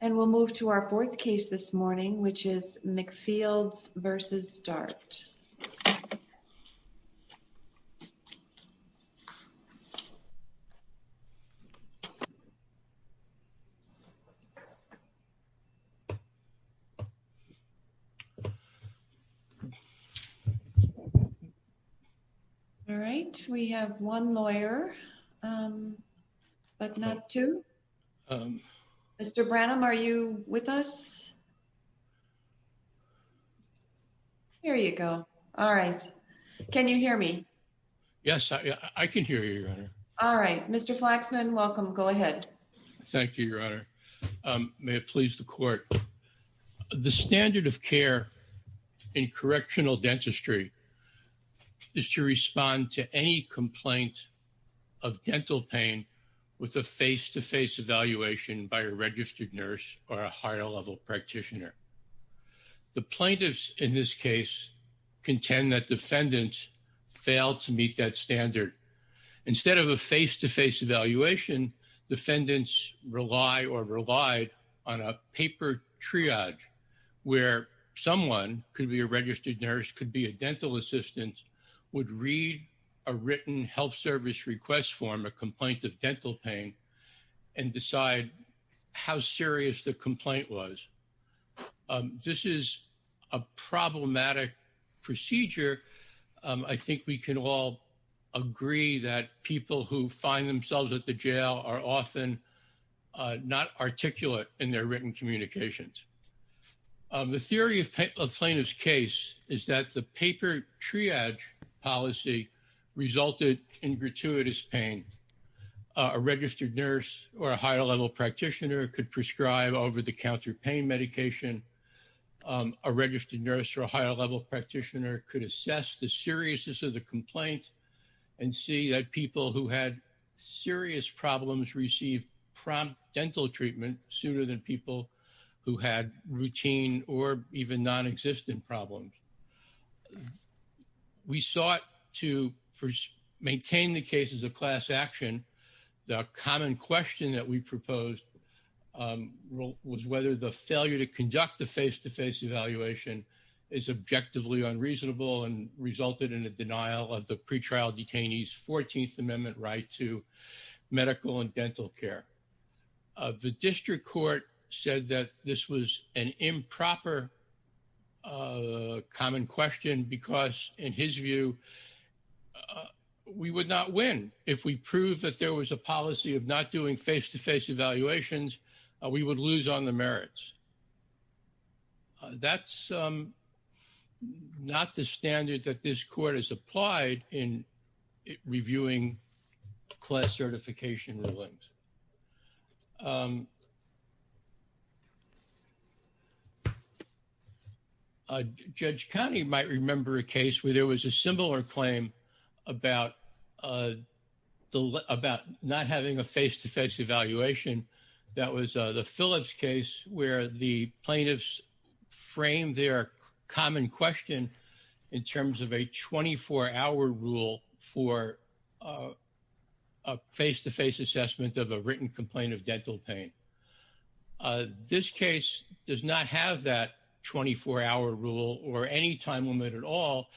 And we'll move to our fourth case this morning, which is McFields v. Dart. All right. We have one lawyer, but not two. Mr Branham Are you with us. Here you go. All right. Can you hear me. Yes, I can hear you. All right. Mr. Flaxman. Welcome. Go ahead. Thank you, your honor. May it please the court. The standard of care. In correctional dentistry. Is to respond to any complaint. Of dental pain. With a face to face evaluation by a registered nurse or a higher level practitioner. The plaintiffs in this case. Contend that defendants. Failed to meet that standard. Instead of a face to face evaluation. And so. The standard of care. Is that when defendants rely or relied. On a paper triage. Where someone could be a registered nurse could be a dental assistance. Would read. A written health service request form, a complaint of dental pain. And decide. How serious the complaint was. The standard of care. Of dental pain. This is a problematic. Procedure. I think we can all. Agree that people who find themselves at the jail are often. Not articulate in their written communications. The theory of plaintiff's case is that the paper triage policy of a registered nurse. Resulted in gratuitous pain. A registered nurse or a higher level practitioner could prescribe over the counter pain medication. A registered nurse or a higher level practitioner could assess the seriousness of the complaint. And see that people who had serious problems received prompt dental treatment sooner than people. Who had routine or even non-existent problems. We sought to. Maintain the cases of class action. We sought to maintain the cases of class action. The common question that we proposed. Was whether the failure to conduct the face-to-face evaluation is objectively unreasonable and resulted in a denial of the pretrial detainees 14th amendment, right. To medical and dental care. The district court said that this was an improper. And. And. That's a fair. Common question, because in his view. We would not win if we prove that there was a policy of not doing face-to-face evaluations. We would lose on the merits. That's. Not the standard that this court has applied in. And. And. Reviewing. Class certification. Um, Uh, judge County might remember a case where there was a similar claim about, uh, Uh, 24 hour rule for, uh, Uh, face-to-face assessment of a written complaint of dental pain. Uh, this case does not have that 24 hour rule or any time limit at all.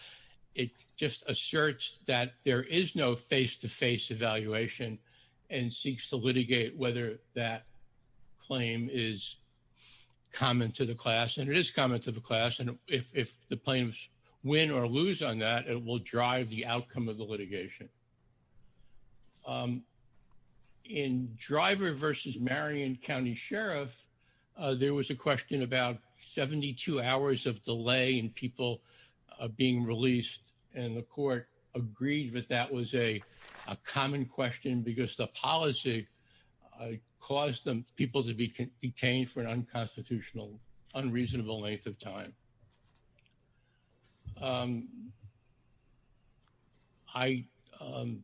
It just asserts that there is no face-to-face evaluation. And seeks to litigate whether that. Uh, Whether, uh, the claim is. Common to the class. And it is common to the class. And if, if the planes win or lose on that, it will drive the outcome of the litigation. Um, In driver versus Marion County sheriff. Uh, there was a question about 72 hours of delay and people. Um, At the time of the, uh, of being released and the court agreed with that was a. A common question because the policy. I caused them people to be detained for an unconstitutional. Unreasonable length of time. Um, Hi. Um,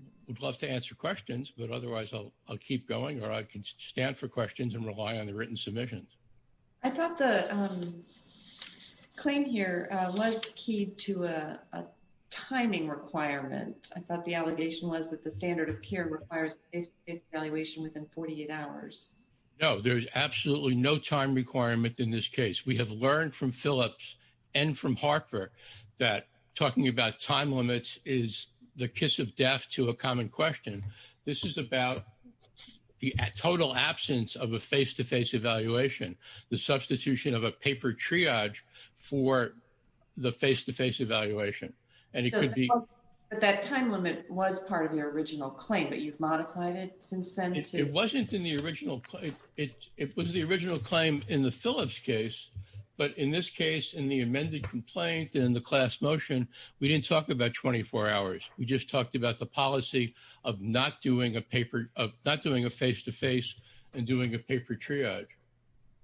I would love to answer questions, but otherwise I'll, I'll keep going or I can stand for questions and rely on the written submissions. I thought the, um, Claim here was key to, uh, Timing requirement. I thought the allegation was that the standard of care requires. Evaluation within 48 hours. No, there's absolutely no time requirement in this case. We have learned from Phillips. And from Harper. That talking about time limits is the kiss of death to a common question. This is about. The total absence of a face-to-face evaluation, the substitution of a paper triage. For. The face-to-face evaluation. And it could be. That time limit was part of your original claim, but you've modified it since then. It wasn't in the original. It was the original claim in the Phillips case. But in this case, in the amended complaint, in the class motion, we didn't talk about 24 hours. We just talked about the policy. Of not doing a paper of not doing a face-to-face. And doing a paper triage.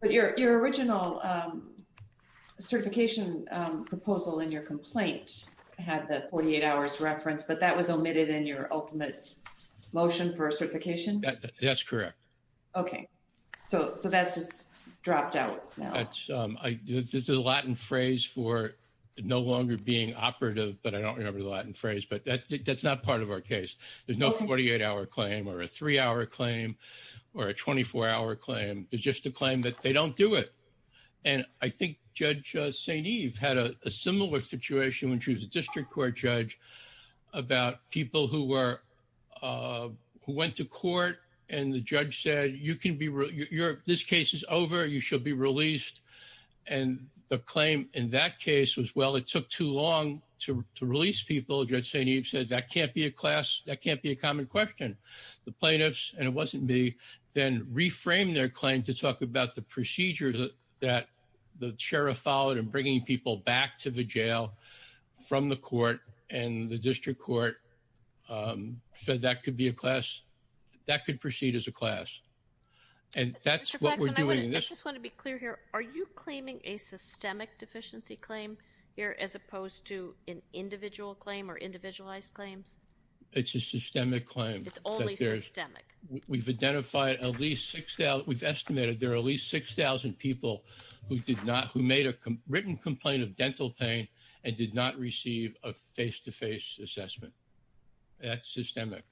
But your, your original, um, Proposal in your complaint. Had that 48 hours reference, but that was omitted in your ultimate motion for a certification. That's correct. Okay. So, so that's just dropped out. This is a Latin phrase for. No longer being operative, but I don't remember the Latin phrase, but that's, that's not part of our case. There's no 48 hour claim or a three hour claim. Or a 24 hour claim is just a claim that they don't do it. And I think judge St. Eve had a similar situation when she was a district court judge. About people who were, uh, who went to court and the judge said you can be real. You're this case is over. You should be released. And the claim in that case was, well, it took too long to release people. Judge St. Eve said that can't be a class. That can't be a common question. The plaintiffs and it wasn't me. There's a lot of different ways to go about this. I think we need to then reframe their claim to talk about the procedures. That the sheriff followed and bringing people back to the jail. From the court and the district court. Um, so that could be a class. That could proceed as a class. And that's what we're doing. I just want to be clear here. Are you claiming a systemic deficiency claim? It's a systemic claim. It's a systemic claim here as opposed to an individual claim or individualized claims. It's a systemic claim. It's only systemic. We've identified at least six. We've estimated there are at least 6,000 people. Who did not, who made a written complaint of dental pain and did not receive a face-to-face assessment. That's systemic.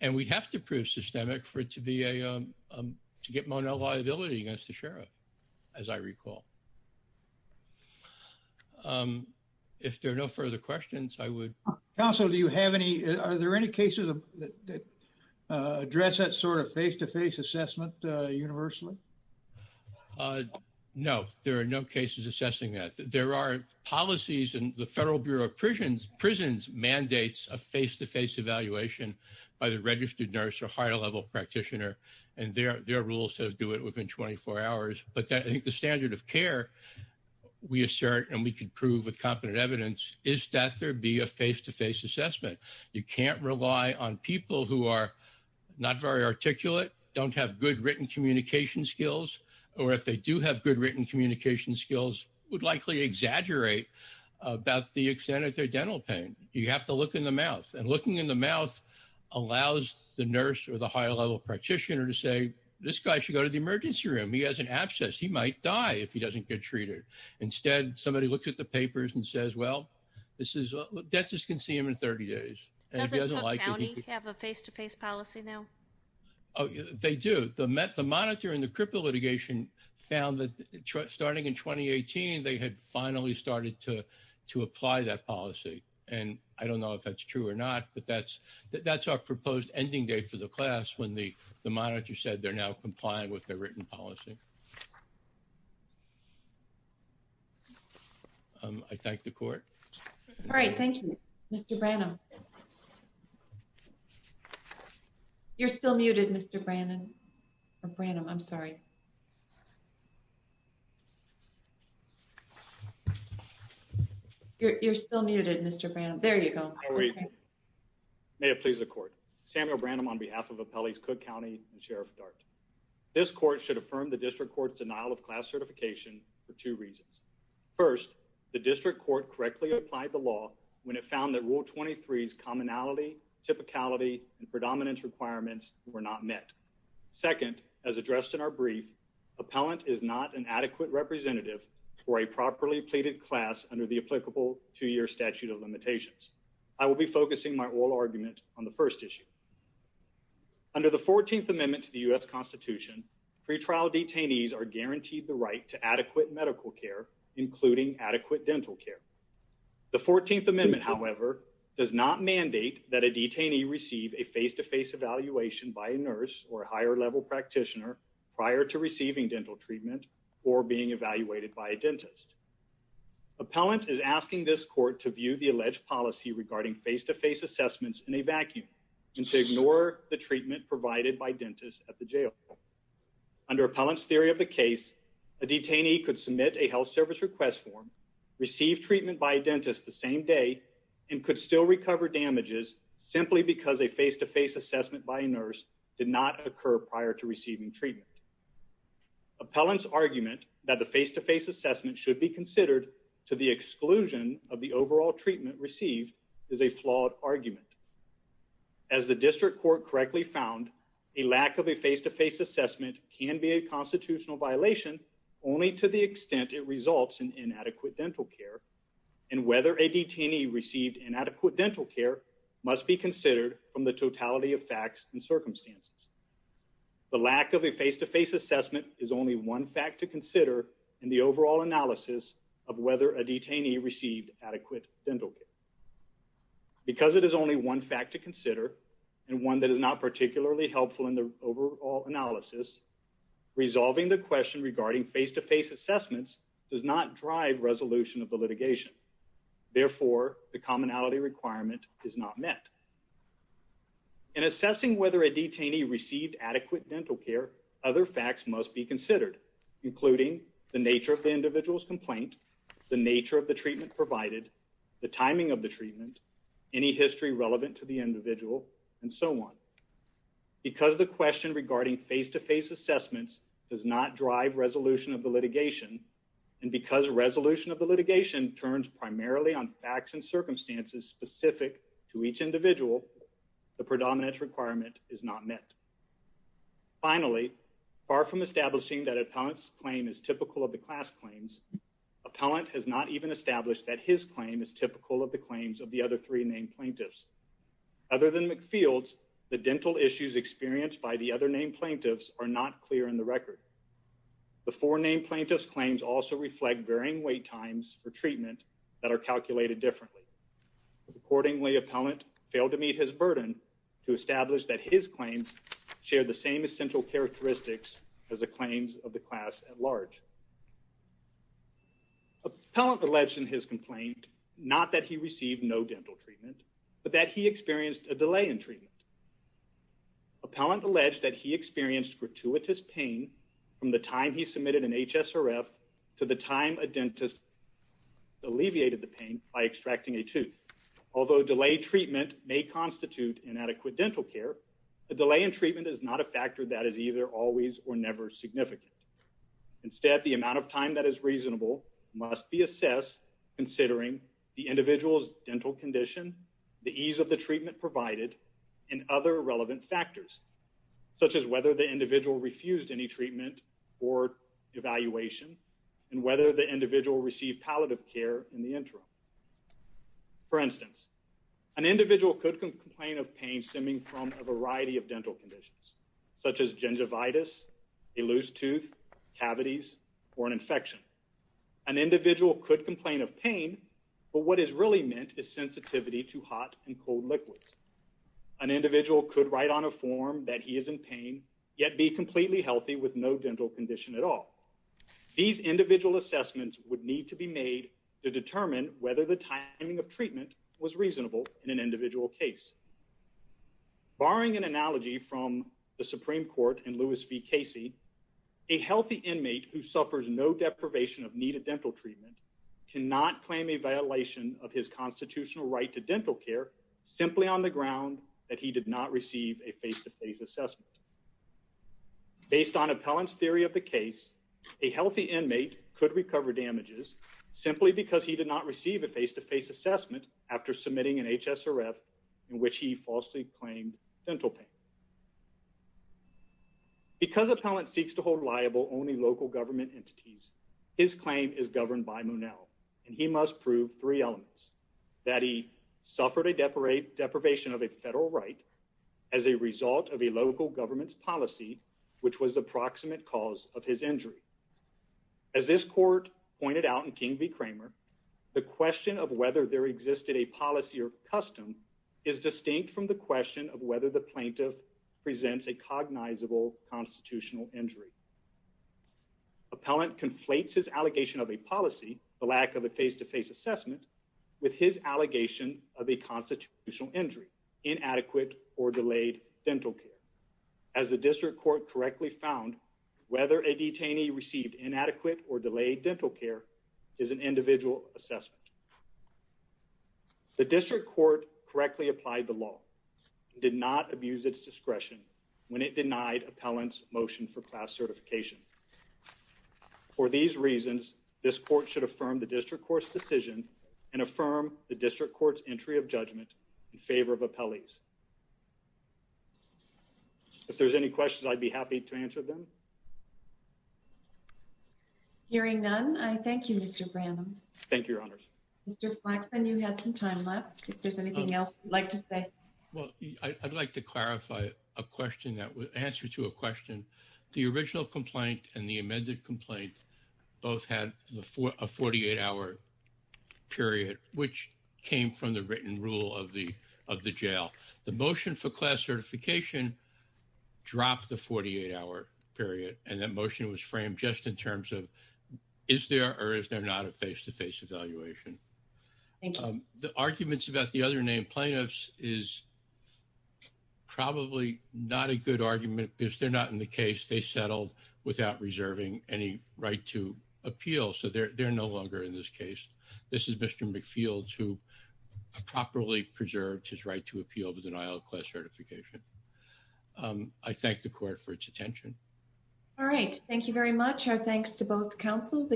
And we'd have to prove systemic for it to be a, um, um, to get Mono liability against the sheriff. As I recall. Um, if there are no further questions, I would. Council, do you have any, are there any cases of. Uh, address that sort of face-to-face assessment, uh, universally. Uh, no, there are no cases assessing that. No, there are no cases assessing that. There are policies and the federal bureau of prisons, prisons mandates a face-to-face evaluation. By the registered nurse or higher level practitioner. And their, their rule says do it within 24 hours, but I think the standard of care. We assert, and we could prove with competent evidence is that there'd be a face-to-face assessment. And then there's the, um, the other thing I'd like to point out is that you can't rely on people who are. Not very articulate. Don't have good written communication skills, or if they do have good written communication skills would likely exaggerate. About the extent of their dental pain. You have to look in the mouth and looking in the mouth. And with that, you said they're now complying with their written policy. Um, I thank the court. All right. Thank you. Mr. Branham. You're still muted. Mr. Brandon. Or Brandon. I'm sorry. You're still muted. Mr. Brandon. There you go. Okay. May it please the court. Samuel Brandon, on behalf of appellees, cook County. And sheriff dart. This court should affirm the district court's denial of class certification. For two reasons. First, the district court correctly applied the law. When it found that rule 23 is commonality. Typicality and predominance requirements were not met. Second, as addressed in our brief. Appellant is not an adequate representative. For a properly pleaded class under the applicable two-year statute of limitations. I will be focusing my oral argument on the first issue. Under the 14th amendment to the U S constitution. Free trial detainees are guaranteed the right to adequate medical care, including adequate dental care. The 14th amendment, however, does not mandate that a detainee receive a face-to-face evaluation by a nurse or a higher level practitioner prior to receiving dental treatment. Or being evaluated by a dentist. Appellant is asking this court to view the alleged policy regarding face-to-face assessments in a vacuum. And to ignore the treatment provided by dentists at the jail. Under appellant's theory of the case. A detainee could submit a health service request form. Receive treatment by a dentist the same day and could still recover damages simply because they face-to-face assessment by a nurse did not occur prior to receiving treatment. Appellant's argument that the face-to-face assessment should be considered to the exclusion of the overall treatment received is a flawed argument. As the district court correctly found a lack of a face-to-face assessment can be a constitutional violation only to the extent it results in inadequate dental care. And whether a detainee received inadequate dental care must be considered from the totality of facts and circumstances. The lack of a face-to-face assessment is only one fact to consider in the overall analysis of whether a detainee received adequate dental care. Because it is only one fact to consider and one that is not particularly helpful in the overall analysis. Resolving the question regarding face-to-face assessments does not drive resolution of the litigation. Therefore, the commonality requirement is not met. In assessing whether a detainee received adequate dental care, other facts must be considered, including the nature of the individual's complaint, the nature of the treatment provided, the timing of the treatment, any history relevant to the individual, and so on. Because the question regarding face-to-face assessments does not drive resolution of the litigation, the commonality requirement is not met. Because the question regarding face-to-face assessments does not drive resolution of the litigation, the commonality requirement is not met. Finally, far from establishing that an appellant's claim is typical of the class claims, an appellant has not even established that his claim is typical of the claims of the other three named plaintiffs. Other than McField's, the dental issues experienced by the other named plaintiffs are not clear in the record. The four named plaintiffs' claims also reflect varying wait times for treatment that are calculated differently. Accordingly, appellant failed to meet his burden to establish that his claims share the same essential characteristics as the claims of the class at large. Appellant alleged in his complaint not that he received no dental treatment, but that he experienced a delay in treatment. Appellant alleged that he experienced gratuitous pain from the time he submitted an HSRF to the time a dentist alleviated the pain by extracting a tooth. Although delayed treatment may constitute inadequate dental care, the delay in treatment is not a factor that is either always or never significant. Instead, the amount of time that is reasonable must be assessed considering the individual's dental condition, the ease of the treatment provided, and other relevant factors, such as whether the individual refused any treatment or evaluation, and whether the individual received palliative care in the interim. For instance, an individual could complain of pain stemming from a variety of dental conditions, such as gingivitis, a loose tooth, cavities, or an infection. An individual could complain of pain, but what is really meant is an individual could write on a form that he is in pain, yet be completely healthy with no dental condition at all. These individual assessments would need to be made to determine whether the timing of treatment was reasonable in an individual case. Barring an analogy from the Supreme Court and Louis V. Casey, a healthy inmate who suffers no deprivation of needed dental treatment cannot claim a violation of his constitutional right to dental care simply on the ground that he did not receive a face-to-face assessment. Based on Appellant's theory of the case, a healthy inmate could recover damages simply because he did not receive a face-to-face assessment after submitting an HSRF in which he falsely claimed dental pain. Because Appellant seeks to hold liable only local government entities, his claim is that he suffered a deprivation of a federal right as a result of a local government's policy, which was the proximate cause of his injury. As this court pointed out in King v. Kramer, the question of whether there existed a policy or custom is distinct from the question of whether the plaintiff presents a cognizable constitutional injury. Appellant conflates his allegation of a policy, the lack of a face-to-face assessment, with his allegation of a constitutional injury, inadequate or delayed dental care. As the District Court correctly found, whether a detainee received inadequate or delayed dental care is an individual assessment. The District Court correctly applied the law and did not abuse its discretion when it denied Appellant's motion for class certification. For these reasons, this court should affirm the District Court's decision and affirm the District Court's entry of judgment in favor of appellees. If there's any questions, I'd be happy to answer them. Hearing none, I thank you, Mr. Branham. Thank you, Your Honors. Mr. Flaxman, you had some time left. If there's anything else you'd like to say. Well, I'd like to clarify a question that would answer to a question. The original complaint and the amended complaint both had a 48-hour period, which came from the written rule of the jail. The motion for class certification dropped the 48-hour period, and that motion was framed just in terms of is there or is there not a face-to-face evaluation. The arguments about the other named plaintiffs is probably not a good case. They settled without reserving any right to appeal, so they're no longer in this case. This is Mr. McField, who properly preserved his right to appeal the denial of class certification. I thank the court for its attention. All right. Thank you very much. Our thanks to both counsel.